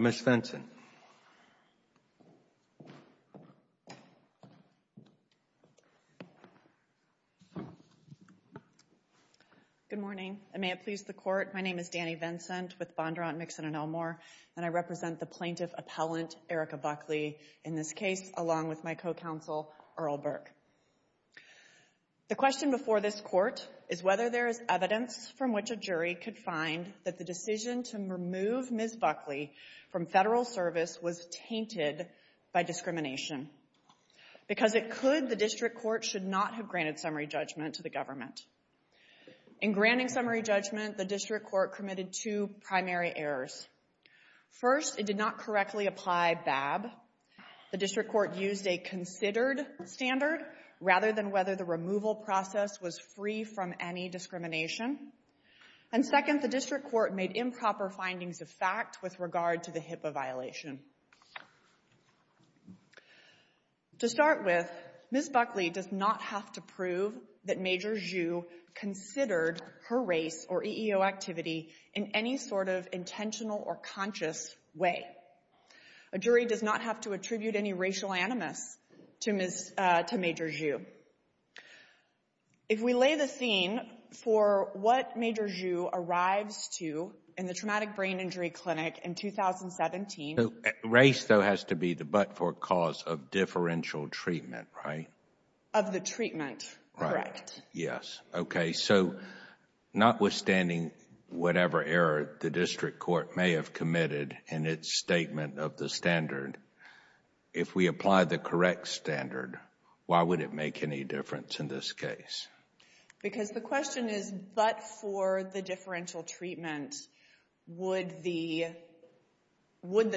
Good morning, and may it please the Court. My name is Dani Vincent with Bondurant, Mixon & Elmore, and I represent the plaintiff appellant, Erika Buckley, in this case, along with my co-counsel, Earl Burke. The question before this Court is whether there is evidence from which a jury could find that the decision to remove Ms. Buckley from federal service was tainted by discrimination. Because it could, the District Court should not have granted summary judgment to the government. In granting summary judgment, the District Court committed two primary errors. First, it did not correctly apply BAB. The District Court used a considered standard rather than whether the removal process was free from any discrimination. And second, the District Court made improper findings of fact with regard to the HIPAA violation. To start with, Ms. Buckley does not have to prove that Major Hsu considered her race or EEO activity in any sort of intentional or conscious way. A jury does not have to attribute any racial animus to Major Hsu. If we lay the theme for what Major Hsu arrives to in the Traumatic Brain Injury Clinic in 2017. Race, though, has to be the but-for cause of differential treatment, right? Of the treatment, correct. Yes, okay. So, notwithstanding whatever error the District Court may have committed in its statement of the standard, if we apply the correct standard, why would it make any difference in this case? Because the question is, but for the differential treatment, would the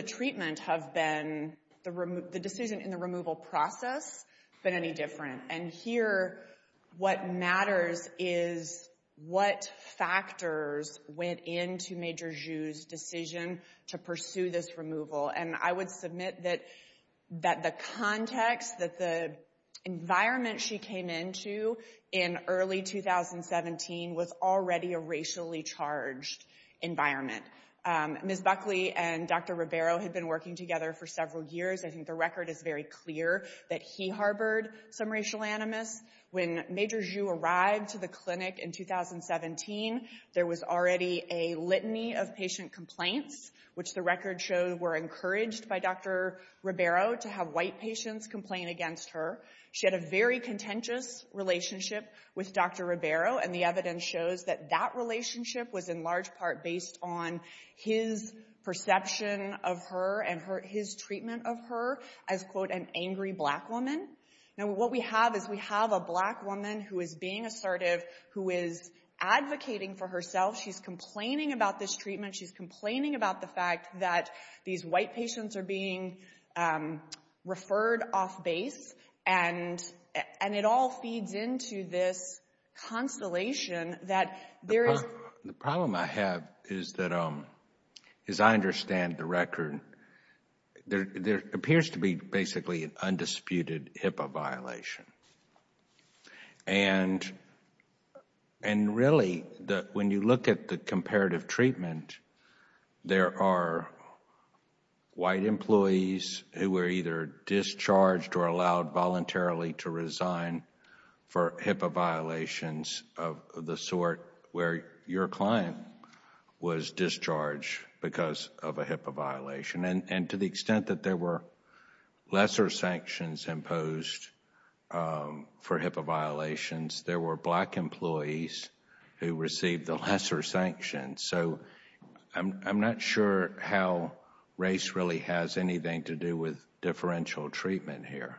treatment have been, the decision in the removal process, been any different? And here, what matters is what factors went into Major Hsu's decision to pursue this removal. And I would submit that the context, that the environment she came into in early 2017 was already a racially charged environment. Ms. Buckley and Dr. Ribeiro had been working together for several years. I think the record is very clear that he harbored some racial animus. When Major Hsu arrived to the clinic in 2017, there was already a litany of patient complaints, which the record shows were encouraged by Dr. Ribeiro to have white patients complain against her. She had a very contentious relationship with Dr. Ribeiro, and the evidence shows that that relationship was in large part based on his perception of her and his treatment of her as, quote, an angry black woman. Now what we have is we have a black woman who is being assertive, who is advocating for herself. She's complaining about this treatment. She's complaining about the fact that these white patients are being referred off base, and it all feeds into this constellation that there is... a HIPAA violation. And really, when you look at the comparative treatment, there are white employees who were either discharged or allowed voluntarily to resign for HIPAA violations of the sort where your client was discharged because of a HIPAA violation. And to the extent that there were lesser sanctions imposed for HIPAA violations, there were black employees who received the lesser sanctions. So I'm not sure how race really has anything to do with differential treatment here.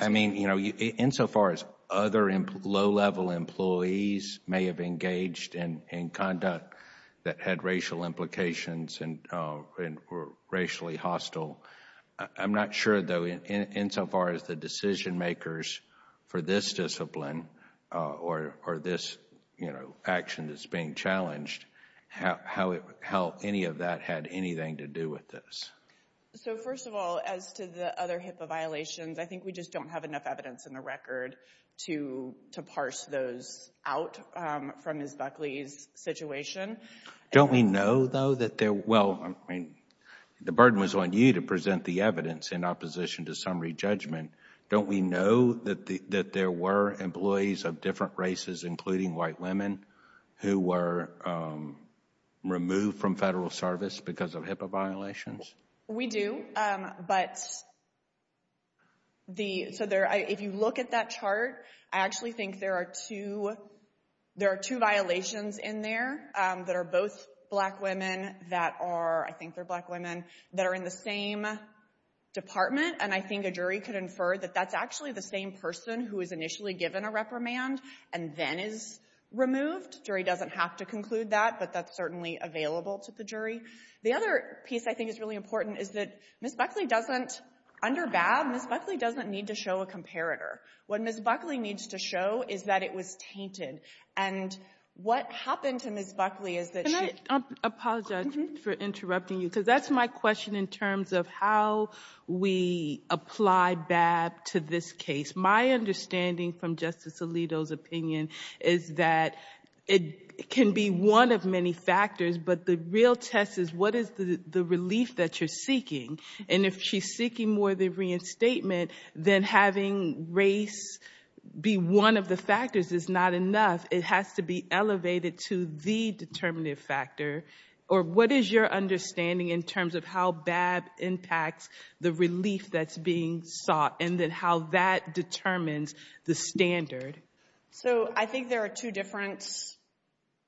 I mean, you know, insofar as other low-level employees may have engaged in conduct that had racial implications and were racially hostile, I'm not sure, though, insofar as the decision makers for this discipline or this, you know, action that's being challenged, how any of that had anything to do with this. So first of all, as to the other HIPAA violations, I think we just don't have enough evidence in the record to parse those out from Ms. Buckley's situation. Don't we know, though, that there... Well, I mean, the burden was on you to present the evidence in opposition to summary judgment. Don't we know that there were employees of different races, including white women, who were removed from federal service because of HIPAA violations? We do, but the... So if you look at that chart, I actually think there are two violations in there that are both black women that are... I would prefer that that's actually the same person who was initially given a reprimand and then is removed. The jury doesn't have to conclude that, but that's certainly available to the jury. The other piece I think is really important is that Ms. Buckley doesn't... Under BAB, Ms. Buckley doesn't need to show a comparator. What Ms. Buckley needs to show is that it was tainted. And what happened to Ms. Buckley is that she... Because that's my question in terms of how we apply BAB to this case. My understanding from Justice Alito's opinion is that it can be one of many factors, but the real test is what is the relief that you're seeking? And if she's seeking more than reinstatement, then having race be one of the factors is not enough. It has to be elevated to the determinative factor. Or what is your understanding in terms of how BAB impacts the relief that's being sought and then how that determines the standard? So I think there are two different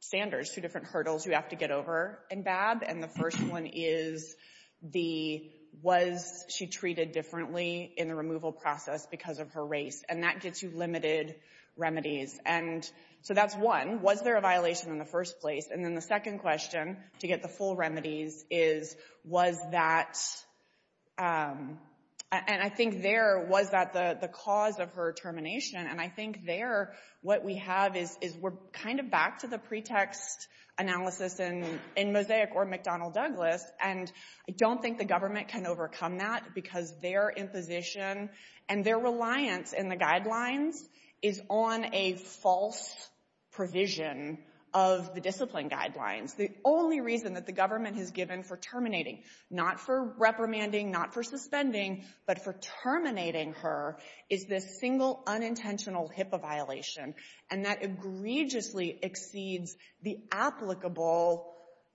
standards, two different hurdles you have to get over in BAB. And the first one is the... Was she treated differently in the removal process because of her race? And that gets you limited remedies. And so that's one. Was there a violation in the first place? And then the second question, to get the full remedies, is was that... And I think there, was that the cause of her termination? And I think there, what we have is we're kind of back to the pretext analysis in Mosaic or McDonnell Douglas. And I don't think the government can overcome that because their imposition and their reliance in the guidelines is on a false provision of the discipline guidelines. The only reason that the government has given for terminating, not for reprimanding, not for suspending, but for terminating her, is this single unintentional HIPAA violation. And that egregiously exceeds the applicable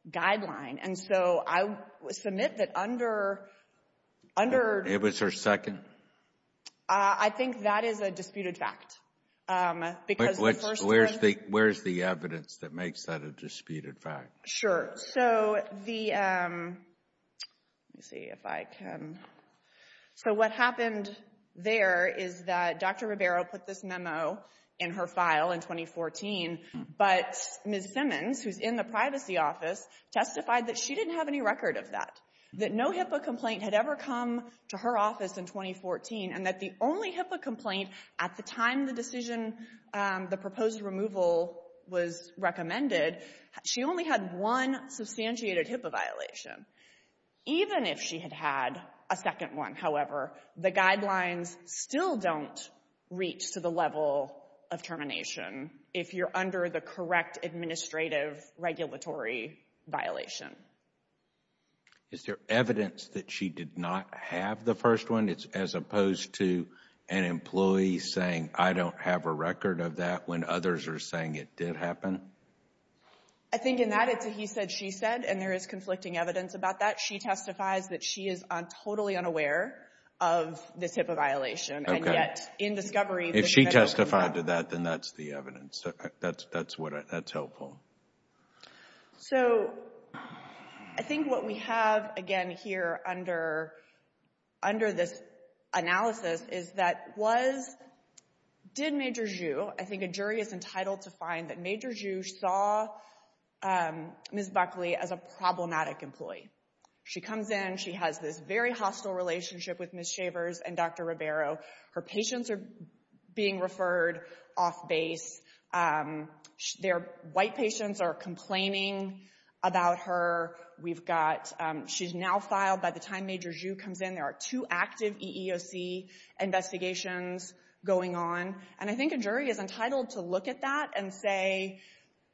guideline. And so I submit that under... It was her second? I think that is a disputed fact. Where's the evidence that makes that a disputed fact? Sure. So the... Let me see if I can... So what happened there is that Dr. Ribeiro put this memo in her file in 2014, but Ms. Simmons, who's in the privacy office, testified that she didn't have any record of that. That no HIPAA complaint had ever come to her office in 2014, and that the only HIPAA complaint at the time the decision, the proposed removal was recommended, she only had one substantiated HIPAA violation. Even if she had had a second one, however, the guidelines still don't reach to the level of termination if you're under the correct administrative regulatory violation. Is there evidence that she did not have the first one, as opposed to an employee saying, I don't have a record of that, when others are saying it did happen? I think in that it's a he said, she said, and there is conflicting evidence about that. She testifies that she is totally unaware of this HIPAA violation, and yet in discovery... If she testified to that, then that's the evidence. That's helpful. So, I think what we have, again, here under this analysis is that was, did Major Zhu, I think a jury is entitled to find that Major Zhu saw Ms. Buckley as a problematic employee. She comes in, she has this very hostile relationship with Ms. Shavers and Dr. Ribeiro. Her patients are being referred off base. Their white patients are complaining about her. We've got, she's now filed, by the time Major Zhu comes in, there are two active EEOC investigations going on. And I think a jury is entitled to look at that and say,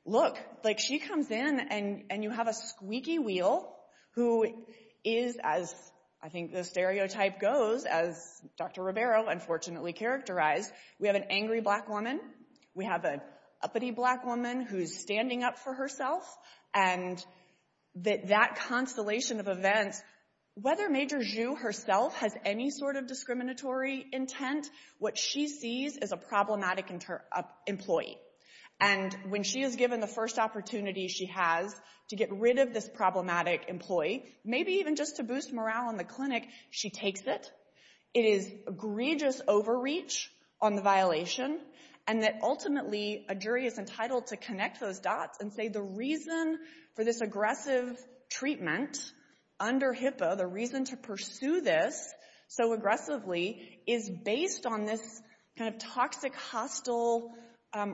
look, like she comes in and you have a squeaky wheel who is, as I think the stereotype goes, as Dr. Ribeiro unfortunately characterized, we have an angry black woman. We have an uppity black woman who's standing up for herself. And that that constellation of events, whether Major Zhu herself has any sort of discriminatory intent, what she sees is a problematic employee. And when she is given the first opportunity she has to get rid of this problematic employee, maybe even just to boost morale in the clinic, she takes it. It is egregious overreach on the violation. And that ultimately a jury is entitled to connect those dots and say the reason for this aggressive treatment under HIPAA, the reason to pursue this so aggressively, is based on this kind of toxic, hostile,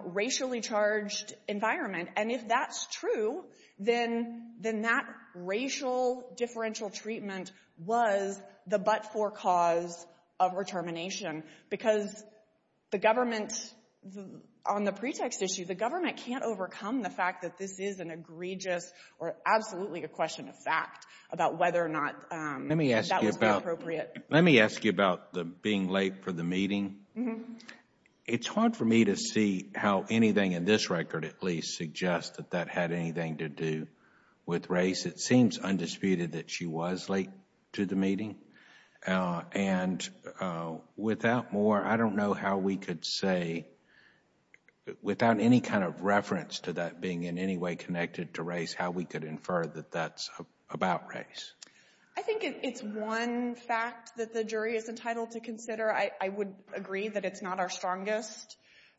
racially charged environment. And if that's true, then that racial differential treatment was the but-for cause of her termination. Because the government, on the pretext issue, the government can't overcome the fact that this is an egregious or absolutely a question of fact about whether or not that was appropriate. Let me ask you about the being late for the meeting. It's hard for me to see how anything in this record at least suggests that that had anything to do with race. It seems undisputed that she was late to the meeting. And without more, I don't know how we could say, without any kind of reference to that being in any way connected to race, how we could infer that that's about race. I think it's one fact that the jury is entitled to consider. I would agree that it's not our strongest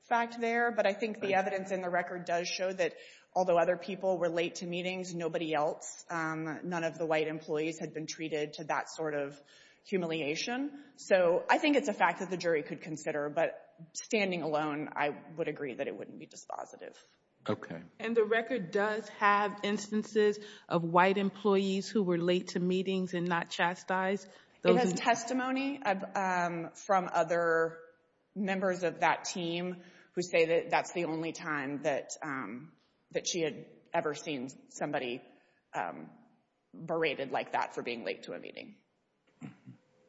fact there. But I think the evidence in the record does show that although other people were late to meetings, nobody else, none of the white employees had been treated to that sort of humiliation. So I think it's a fact that the jury could consider. But standing alone, I would agree that it wouldn't be dispositive. Okay. And the record does have instances of white employees who were late to meetings and not chastised? It has testimony from other members of that team who say that that's the only time that she had ever seen somebody berated like that for being late to a meeting.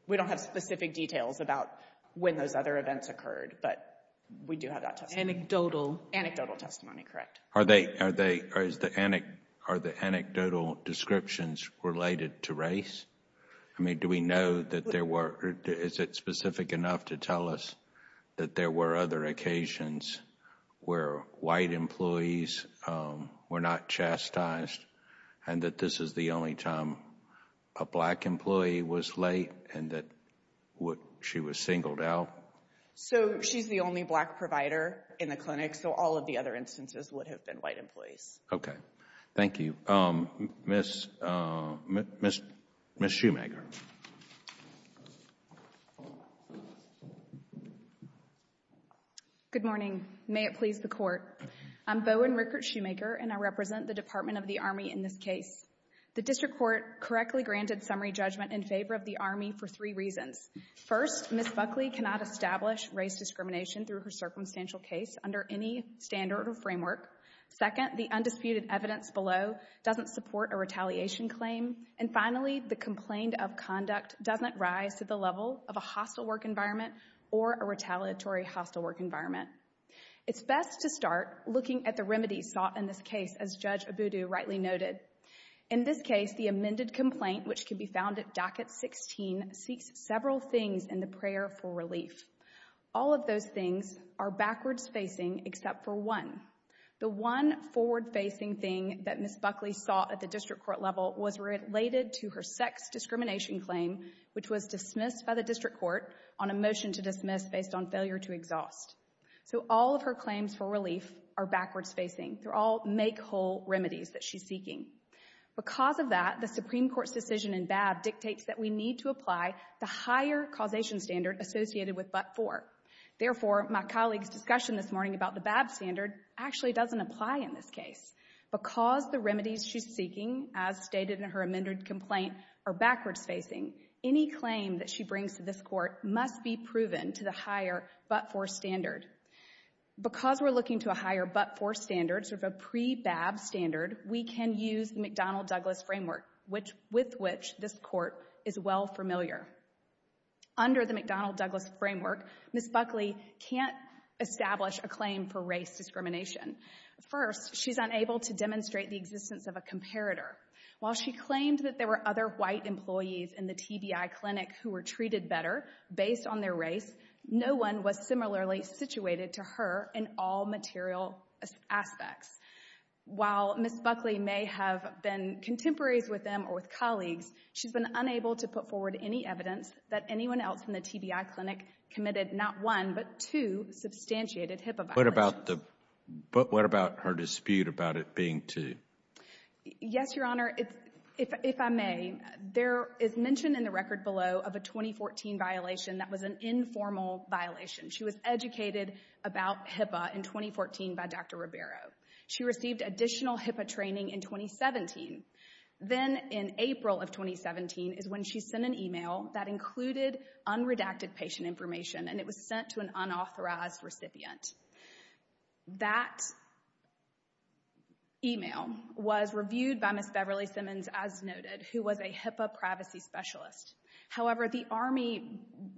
We don't have specific details about when those other events occurred, but we do have that testimony. Anecdotal. Anecdotal testimony, correct. Are the anecdotal descriptions related to race? I mean, do we know that there were—is it specific enough to tell us that there were other occasions where white employees were not chastised and that this is the only time a black employee was late and that she was singled out? No. So she's the only black provider in the clinic, so all of the other instances would have been white employees. Okay. Thank you. Ms. Schumacher. Good morning. May it please the Court. I'm Bowen Rickert Schumacher, and I represent the Department of the Army in this case. The district court correctly granted summary judgment in favor of the Army for three reasons. First, Ms. Buckley cannot establish race discrimination through her circumstantial case under any standard or framework. Second, the undisputed evidence below doesn't support a retaliation claim. And finally, the complaint of conduct doesn't rise to the level of a hostile work environment or a retaliatory hostile work environment. It's best to start looking at the remedies sought in this case, as Judge Abudu rightly noted. In this case, the amended complaint, which can be found at docket 16, seeks several things in the prayer for relief. All of those things are backwards facing except for one. The one forward facing thing that Ms. Buckley sought at the district court level was related to her sex discrimination claim, which was dismissed by the district court on a motion to dismiss based on failure to exhaust. So all of her claims for relief are backwards facing. They're all make-whole remedies that she's seeking. Because of that, the Supreme Court's decision in BAB dictates that we need to apply the higher causation standard associated with but-for. Therefore, my colleague's discussion this morning about the BAB standard actually doesn't apply in this case. Because the remedies she's seeking, as stated in her amended complaint, are backwards facing, any claim that she brings to this court must be proven to the higher but-for standard. Because we're looking to a higher but-for standard, sort of a pre-BAB standard, we can use the McDonnell-Douglas framework, with which this court is well familiar. Under the McDonnell-Douglas framework, Ms. Buckley can't establish a claim for race discrimination. First, she's unable to demonstrate the existence of a comparator. While she claimed that there were other white employees in the TBI clinic who were treated better based on their race, no one was similarly situated to her in all material aspects. While Ms. Buckley may have been contemporaries with them or with colleagues, she's been unable to put forward any evidence that anyone else in the TBI clinic committed not one but two substantiated HIPAA violations. But what about her dispute about it being two? Yes, Your Honor. Your Honor, if I may, there is mention in the record below of a 2014 violation that was an informal violation. She was educated about HIPAA in 2014 by Dr. Ribeiro. She received additional HIPAA training in 2017. Then in April of 2017 is when she sent an email that included unredacted patient information, and it was sent to an unauthorized recipient. That email was reviewed by Ms. Beverly Simmons, as noted, who was a HIPAA privacy specialist. However, the Army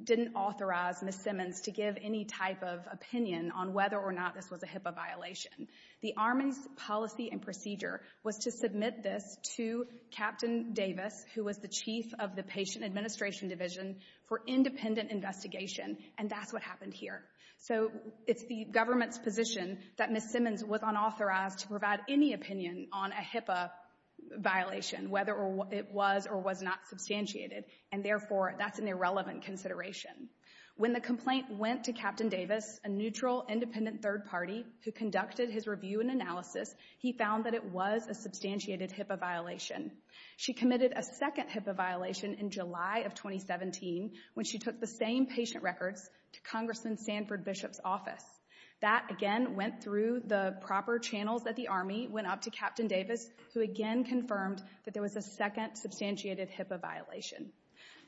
didn't authorize Ms. Simmons to give any type of opinion on whether or not this was a HIPAA violation. The Army's policy and procedure was to submit this to Captain Davis, who was the chief of the patient administration division, for independent investigation, and that's what happened here. So it's the government's position that Ms. Simmons was unauthorized to provide any opinion on a HIPAA violation, whether it was or was not substantiated, and therefore that's an irrelevant consideration. When the complaint went to Captain Davis, a neutral, independent third party who conducted his review and analysis, he found that it was a substantiated HIPAA violation. She committed a second HIPAA violation in July of 2017 when she took the same patient records to Congressman Sanford Bishop's office. That, again, went through the proper channels that the Army went up to Captain Davis, who again confirmed that there was a second substantiated HIPAA violation.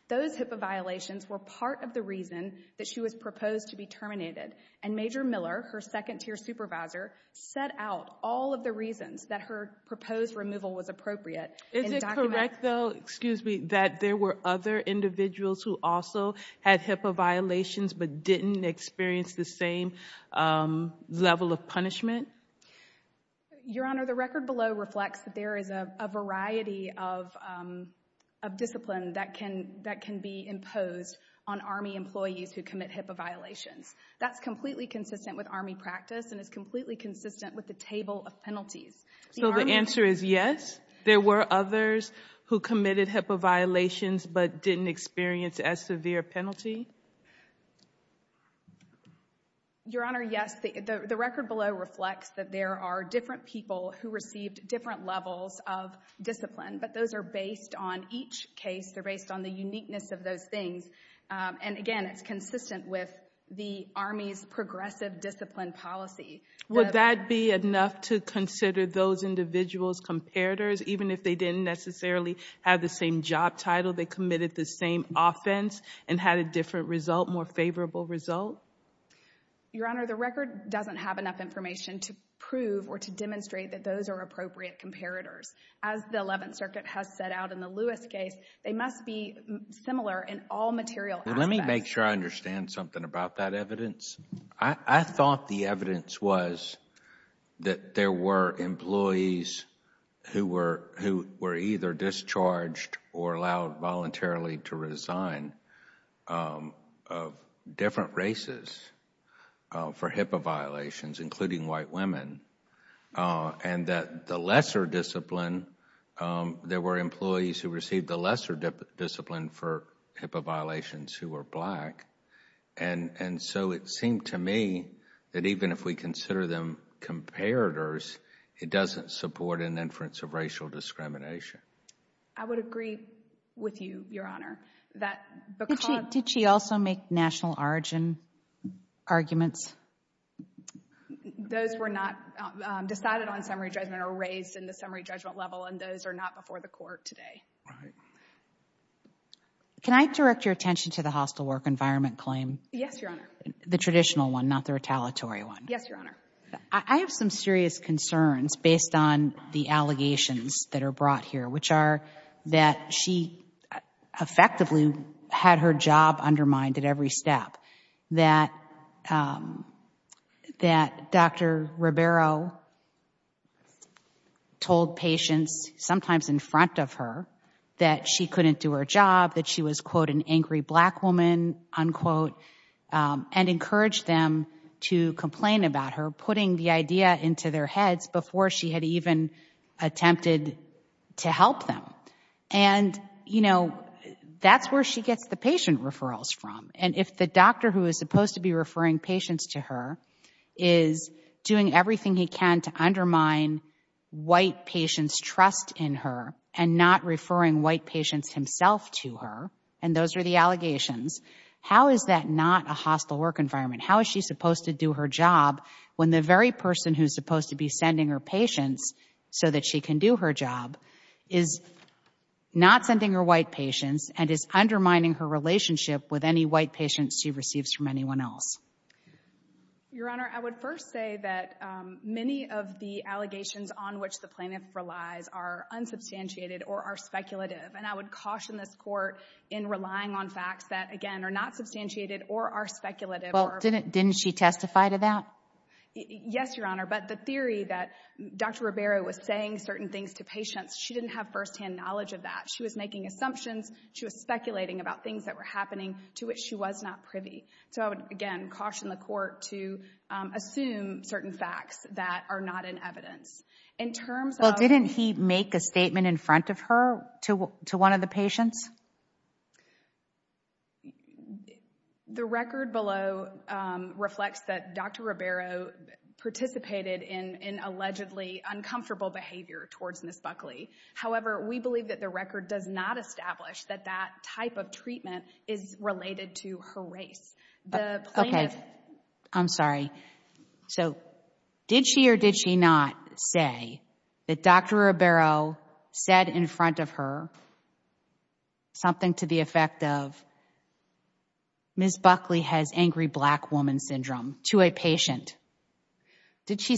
Those HIPAA violations were part of the reason that she was proposed to be terminated, and Major Miller, her second-tier supervisor, set out all of the reasons that her proposed removal was appropriate. Is it correct, though, excuse me, that there were other individuals who also had HIPAA violations but didn't experience the same level of punishment? Your Honor, the record below reflects that there is a variety of discipline that can be imposed on Army employees who commit HIPAA violations. That's completely consistent with Army practice and is completely consistent with the table of penalties. So the answer is yes, there were others who committed HIPAA violations but didn't experience as severe a penalty? Your Honor, yes, the record below reflects that there are different people who received different levels of discipline, but those are based on each case, they're based on the uniqueness of those things. And again, it's consistent with the Army's progressive discipline policy. Would that be enough to consider those individuals comparators, even if they didn't necessarily have the same job title, they committed the same offense and had a different result, more favorable result? Your Honor, the record doesn't have enough information to prove or to demonstrate that those are appropriate comparators. As the Eleventh Circuit has set out in the Lewis case, they must be similar in all material aspects. Let me make sure I understand something about that evidence. I thought the evidence was that there were employees who were either discharged or allowed voluntarily to resign of different races for HIPAA violations, including white women, and that the lesser discipline, there were employees who received the lesser discipline for HIPAA violations who were black. And so it seemed to me that even if we consider them comparators, it doesn't support an inference of racial discrimination. I would agree with you, Your Honor. Did she also make national origin arguments? Those were not decided on summary judgment or raised in the summary judgment level, and those are not before the court today. Can I direct your attention to the hostile work environment claim? Yes, Your Honor. The traditional one, not the retaliatory one. Yes, Your Honor. I have some serious concerns based on the allegations that are brought here, which are that she effectively had her job undermined at every step, that Dr. Ribeiro told patients, sometimes in front of her, that she couldn't do her job, that she was, quote, an angry black woman, unquote, and encouraged them to complain about her, putting the idea into their heads before she had even attempted to help them. And, you know, that's where she gets the patient referrals from. And if the doctor who is supposed to be referring patients to her is doing everything he can to undermine white patients' trust in her and not referring white patients himself to her, and those are the allegations, how is that not a hostile work environment? How is she supposed to do her job when the very person who is supposed to be sending her patients so that she can do her job is not sending her white patients and is undermining her relationship with any white patients she receives from anyone else? Your Honor, I would first say that many of the allegations on which the plaintiff relies are unsubstantiated or are speculative. And I would caution this Court in relying on facts that, again, are not substantiated or are speculative. Well, didn't she testify to that? Yes, Your Honor. But the theory that Dr. Ribeiro was saying certain things to patients, she didn't have firsthand knowledge of that. She was making assumptions. She was speculating about things that were happening to which she was not privy. So I would, again, caution the Court to assume certain facts that are not in evidence. In terms of... Well, didn't he make a statement in front of her to one of the patients? The record below reflects that Dr. Ribeiro participated in allegedly uncomfortable behavior towards Ms. Buckley. However, we believe that the record does not establish that that type of treatment is related to her race. The plaintiff... Okay. I'm sorry. So, did she or did she not say that Dr. Ribeiro said in front of her something to the effect of, Ms. Buckley has angry black woman syndrome to a patient? Did she...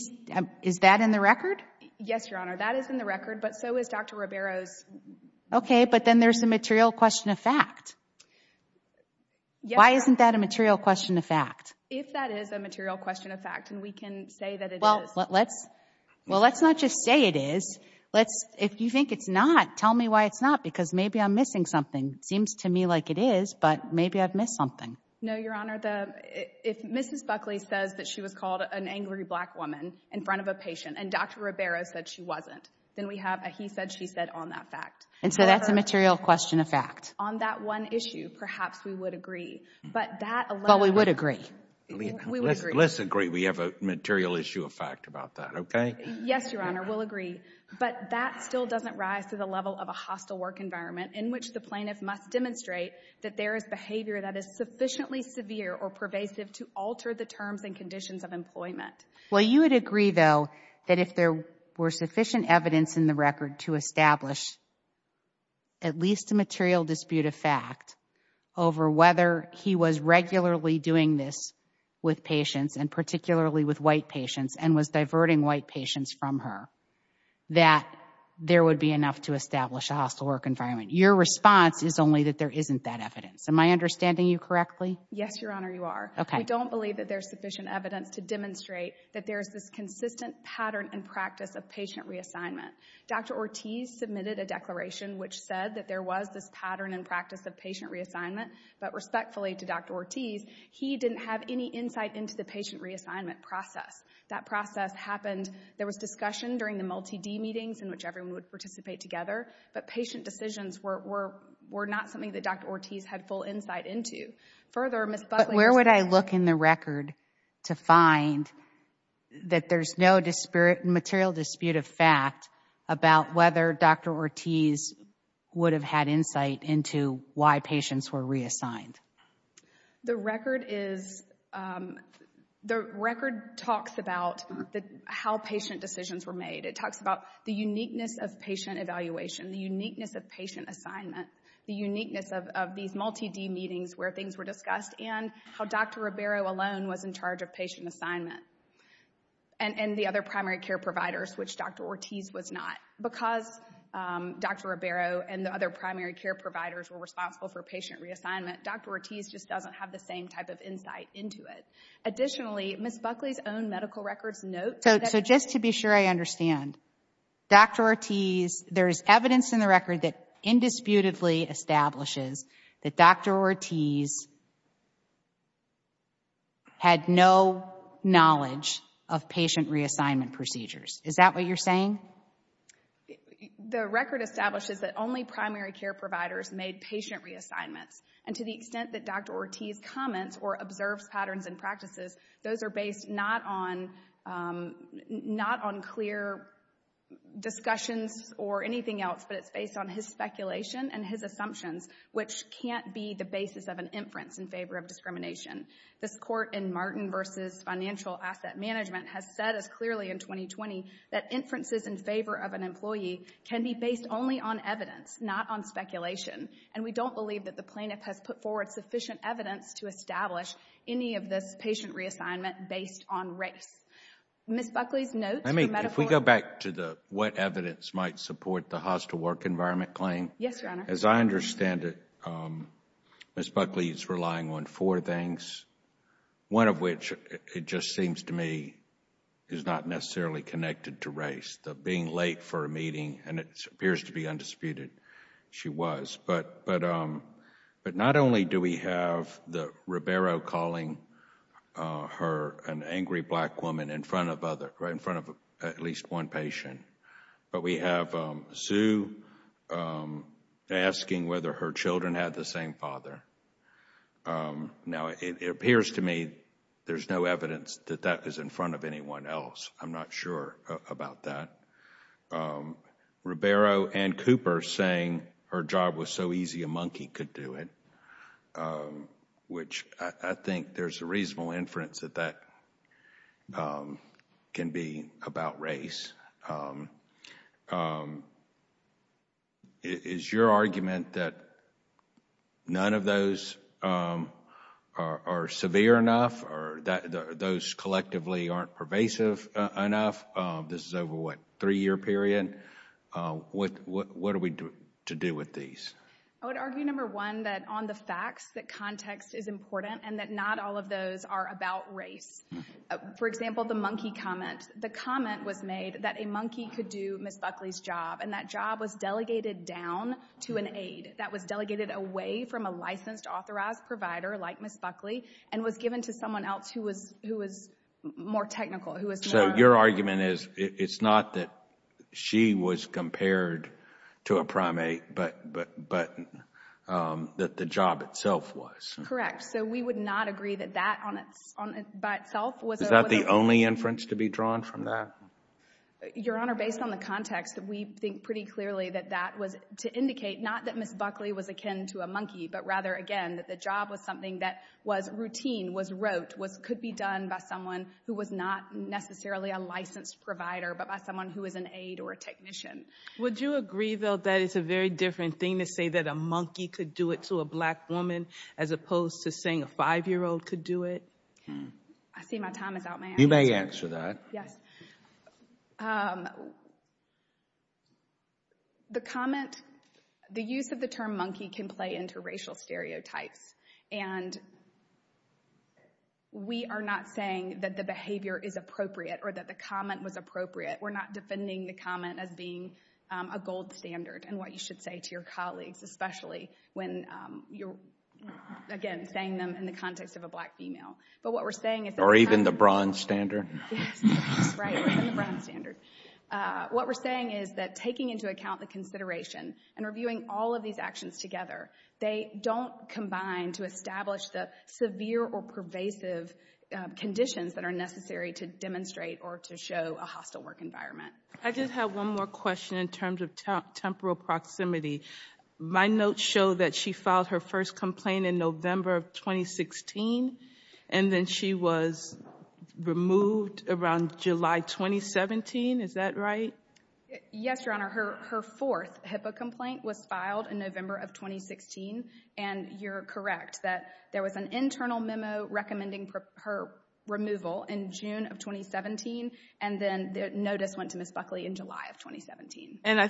Is that in the record? Yes, Your Honor. That is in the record, but so is Dr. Ribeiro's... Okay, but then there's a material question of fact. Yes, Your Honor. Why isn't that a material question of fact? If that is a material question of fact and we can say that it is... Well, let's not just say it is. If you think it's not, tell me why it's not because maybe I'm missing something. It seems to me like it is, but maybe I've missed something. No, Your Honor. If Mrs. Buckley says that she was called an angry black woman in front of a patient and Dr. Ribeiro said she wasn't, then we have a he said, she said on that fact. And so that's a material question of fact. On that one issue, perhaps we would agree. But that alone... But we would agree. We would agree. Let's agree we have a material issue of fact about that, okay? Yes, Your Honor. We'll agree. But that still doesn't rise to the level of a hostile work environment in which the plaintiff must demonstrate that there is behavior that is sufficiently severe or pervasive to alter the terms and conditions of employment. Well, you would agree, though, that if there were sufficient evidence in the record to establish at least a material dispute of fact over whether he was regularly doing this with patients and particularly with white patients and was diverting white patients from her, that there would be enough to establish a hostile work environment. Your response is only that there isn't that evidence. Am I understanding you correctly? Yes, Your Honor, you are. Okay. I don't believe that there's sufficient evidence to demonstrate that there's this consistent pattern and practice of patient reassignment. Dr. Ortiz submitted a declaration which said that there was this pattern and practice of patient reassignment, but respectfully to Dr. Ortiz, he didn't have any insight into the patient reassignment process. That process happened. There was discussion during the multi-D meetings in which everyone would participate together, but patient decisions were not something that Dr. Ortiz had full insight into. But where would I look in the record to find that there's no material dispute of fact about whether Dr. Ortiz would have had insight into why patients were reassigned? The record talks about how patient decisions were made. It talks about the uniqueness of patient evaluation, the uniqueness of patient assignment, the uniqueness of these multi-D meetings where things were discussed, and how Dr. Ribeiro alone was in charge of patient assignment and the other primary care providers, which Dr. Ortiz was not. Because Dr. Ribeiro and the other primary care providers were responsible for patient reassignment, Dr. Ortiz just doesn't have the same type of insight into it. Additionally, Ms. Buckley's own medical records note that... So just to be sure I understand, Dr. Ortiz, there is evidence in the record that indisputably establishes that Dr. Ortiz had no knowledge of patient reassignment procedures. Is that what you're saying? The record establishes that only primary care providers made patient reassignments, and to the extent that Dr. Ortiz comments or observes patterns and practices, those are based not on clear discussions or anything else, but it's based on his speculation and his assumptions, which can't be the basis of an inference in favor of discrimination. This court in Martin v. Financial Asset Management has said as clearly in 2020 that inferences in favor of an employee can be based only on evidence, not on speculation, and we don't believe that the plaintiff has put forward sufficient evidence to establish any of this patient reassignment based on race. Ms. Buckley's notes... If we go back to what evidence might support the hostile work environment claim, as I understand it, Ms. Buckley is relying on four things, one of which it just seems to me is not necessarily connected to race, the being late for a meeting, and it appears to be undisputed she was. But not only do we have Ribeiro calling her an angry black woman in front of at least one patient, but we have Sue asking whether her children had the same father. Now, it appears to me there's no evidence that that is in front of anyone else. I'm not sure about that. Ribeiro and Cooper saying her job was so easy a monkey could do it, which I think there's a reasonable inference that that can be about race. Is your argument that none of those are severe enough or those collectively aren't pervasive enough? This is over, what, a three-year period? What are we to do with these? I would argue, number one, that on the facts that context is important and that not all of those are about race. For example, the monkey comment. The comment was made that a monkey could do Ms. Buckley's job, and that job was delegated down to an aide. That was delegated away from a licensed authorized provider like Ms. Buckley and was given to someone else who was more technical. So your argument is it's not that she was compared to a primate, but that the job itself was. Correct. So we would not agree that that by itself was a monkey. Is that the only inference to be drawn from that? Your Honor, based on the context, we think pretty clearly that that was to indicate that the job was something that was routine, was rote, could be done by someone who was not necessarily a licensed provider, but by someone who was an aide or a technician. Would you agree, though, that it's a very different thing to say that a monkey could do it to a black woman as opposed to saying a five-year-old could do it? I see my time is out. You may answer that. Yes. The comment, the use of the term monkey can play into racial stereotypes, and we are not saying that the behavior is appropriate or that the comment was appropriate. We're not defending the comment as being a gold standard and what you should say to your colleagues, especially when you're, again, saying them in the context of a black female. Or even the bronze standard. Yes, right, or even the bronze standard. What we're saying is that taking into account the consideration and reviewing all of these actions together, they don't combine to establish the severe or pervasive conditions that are necessary to demonstrate or to show a hostile work environment. I just have one more question in terms of temporal proximity. My notes show that she filed her first complaint in November of 2016, and then she was removed around July 2017. Is that right? Yes, Your Honor. Her fourth HIPAA complaint was filed in November of 2016, and you're correct that there was an internal memo recommending her removal in June of 2017, and then the notice went to Ms. Buckley in July of 2017. I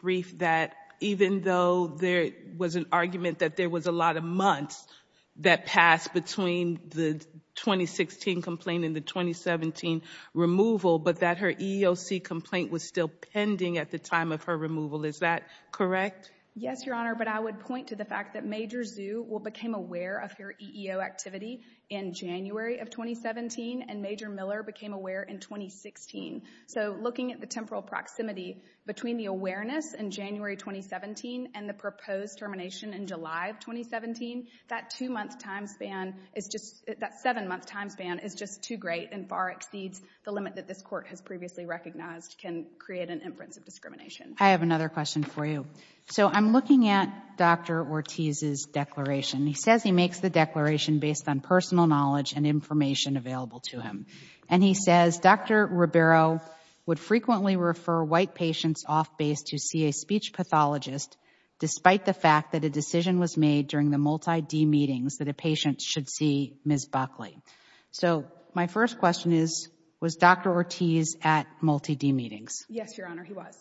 believe that even though there was an argument that there was a lot of months that passed between the 2016 complaint and the 2017 removal, but that her EEOC complaint was still pending at the time of her removal. Is that correct? Yes, Your Honor, but I would point to the fact that Major Zhu became aware of her EEO activity in January of 2017, and Major Miller became aware in 2016. So looking at the temporal proximity between the awareness in January 2017 and the proposed termination in July of 2017, that seven-month time span is just too great and far exceeds the limit that this Court has previously recognized can create an inference of discrimination. I have another question for you. I'm looking at Dr. Ortiz's declaration. He says he makes the declaration based on personal knowledge and information available to him. And he says Dr. Ribeiro would frequently refer white patients off base to see a speech pathologist despite the fact that a decision was made during the multi-D meetings that a patient should see Ms. Buckley. So my first question is, was Dr. Ortiz at multi-D meetings? Yes, Your Honor, he was.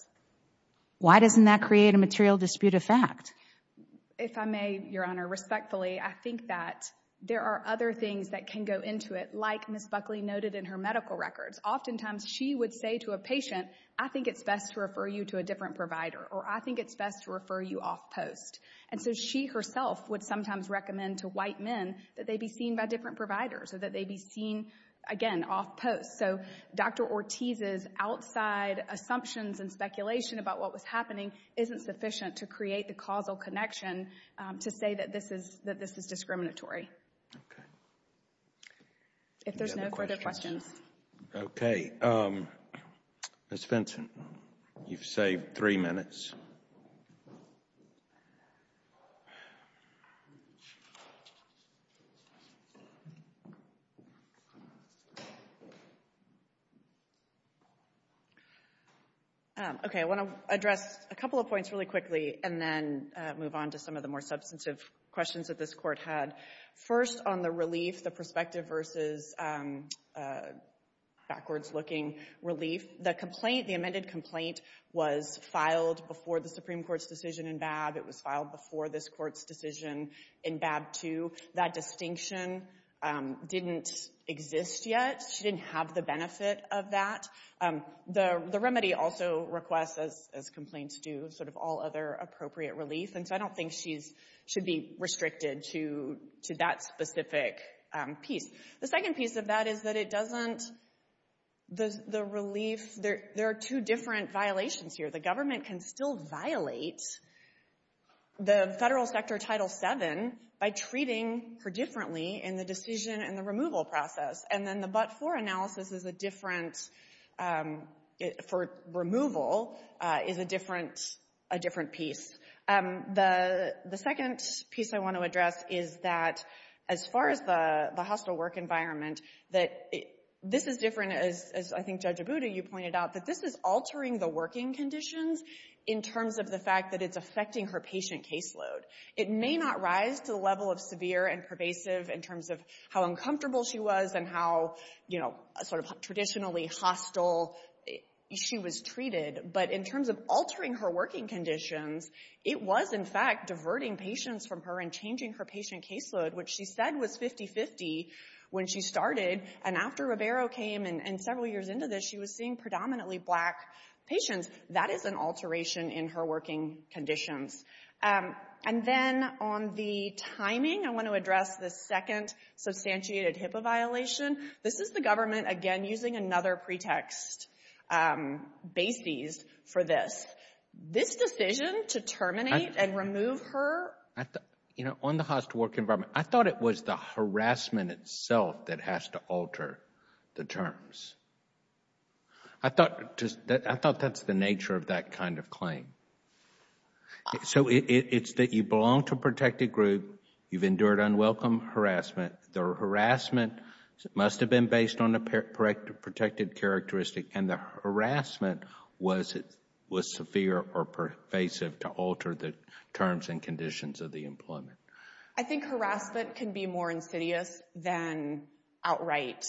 Why doesn't that create a material dispute of fact? If I may, Your Honor, respectfully, I think that there are other things that can go into it like Ms. Buckley noted in her medical records. Oftentimes she would say to a patient, I think it's best to refer you to a different provider or I think it's best to refer you off post. And so she herself would sometimes recommend to white men that they be seen by different providers or that they be seen, again, off post. So Dr. Ortiz's outside assumptions and speculation about what was happening isn't sufficient to create the causal connection to say that this is discriminatory. Okay. If there's no further questions. Okay. Ms. Vinson, you've saved three minutes. Okay, I want to address a couple of points really quickly and then move on to some of the more substantive questions that this Court had. First, on the relief, the prospective versus backwards-looking relief. The complaint, the amended complaint, was filed before the Supreme Court's decision in BAB. It was filed before this Court's decision in BAB 2. That distinction didn't exist yet. She didn't have the benefit of that. The remedy also requests, as complaints do, sort of all other appropriate relief. And so I don't think she should be restricted to that specific piece. The second piece of that is that it doesn't... The relief... There are two different violations here. The government can still violate the federal sector Title VII by treating her differently in the decision and the removal process. And then the but-for analysis is a different... For removal is a different piece. The second piece I want to address is that, as far as the hostile work environment, this is different, as I think Judge Abuda, you pointed out, that this is altering the working conditions in terms of the fact that it's affecting her patient caseload. It may not rise to the level of severe and pervasive in terms of how uncomfortable she was and how sort of traditionally hostile she was treated. But in terms of altering her working conditions, it was, in fact, diverting patients from her and changing her patient caseload, which she said was 50-50 when she started. And after Ribeiro came and several years into this, she was seeing predominantly black patients. And then on the timing, I want to address the second substantiated HIPAA violation. This is the government, again, using another pretext basis for this. This decision to terminate and remove her... You know, on the hostile work environment, I thought it was the harassment itself that has to alter the terms. I thought that's the nature of that kind of claim. So it's that you belong to a protected group, you've endured unwelcome harassment, the harassment must have been based on a protected characteristic, and the harassment was severe or pervasive to alter the terms and conditions of the employment. I think harassment can be more insidious than outright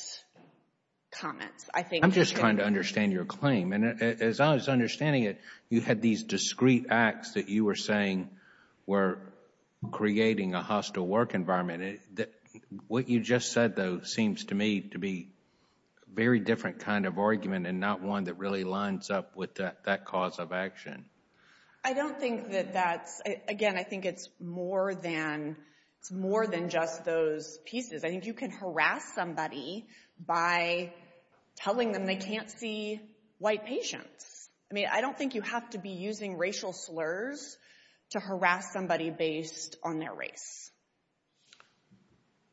comments. I'm just trying to understand your claim. And as I was understanding it, you had these discrete acts that you were saying were creating a hostile work environment. What you just said, though, seems to me to be a very different kind of argument and not one that really lines up with that cause of action. I don't think that that's... Again, I think it's more than just those pieces. I think you can harass somebody by telling them they can't see white patients. I mean, I don't think you have to be using racial slurs to harass somebody based on their race.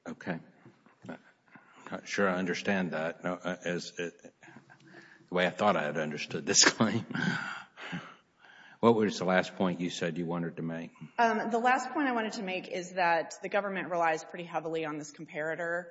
Okay. I'm not sure I understand that the way I thought I had understood this claim. What was the last point you said you wanted to make? The last point I wanted to make is that the government relies pretty heavily on this comparator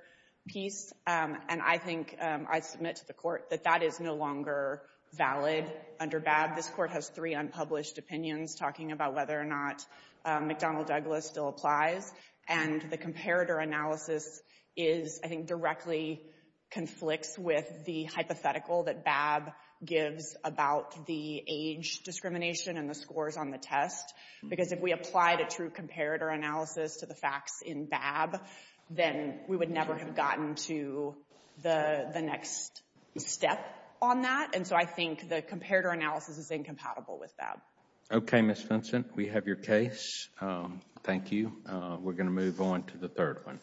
piece, and I think I submit to the Court that that is no longer valid under BAB. This Court has three unpublished opinions talking about whether or not McDonnell-Douglas still applies, and the comparator analysis is, I think, directly conflicts with the hypothetical that BAB gives about the age discrimination and the scores on the test, because if we applied a true comparator analysis to the facts in BAB, then we would never have gotten to the next step on that. And so I think the comparator analysis is incompatible with BAB. Okay, Ms. Vincent, we have your case. Thank you. We're going to move on to the third one.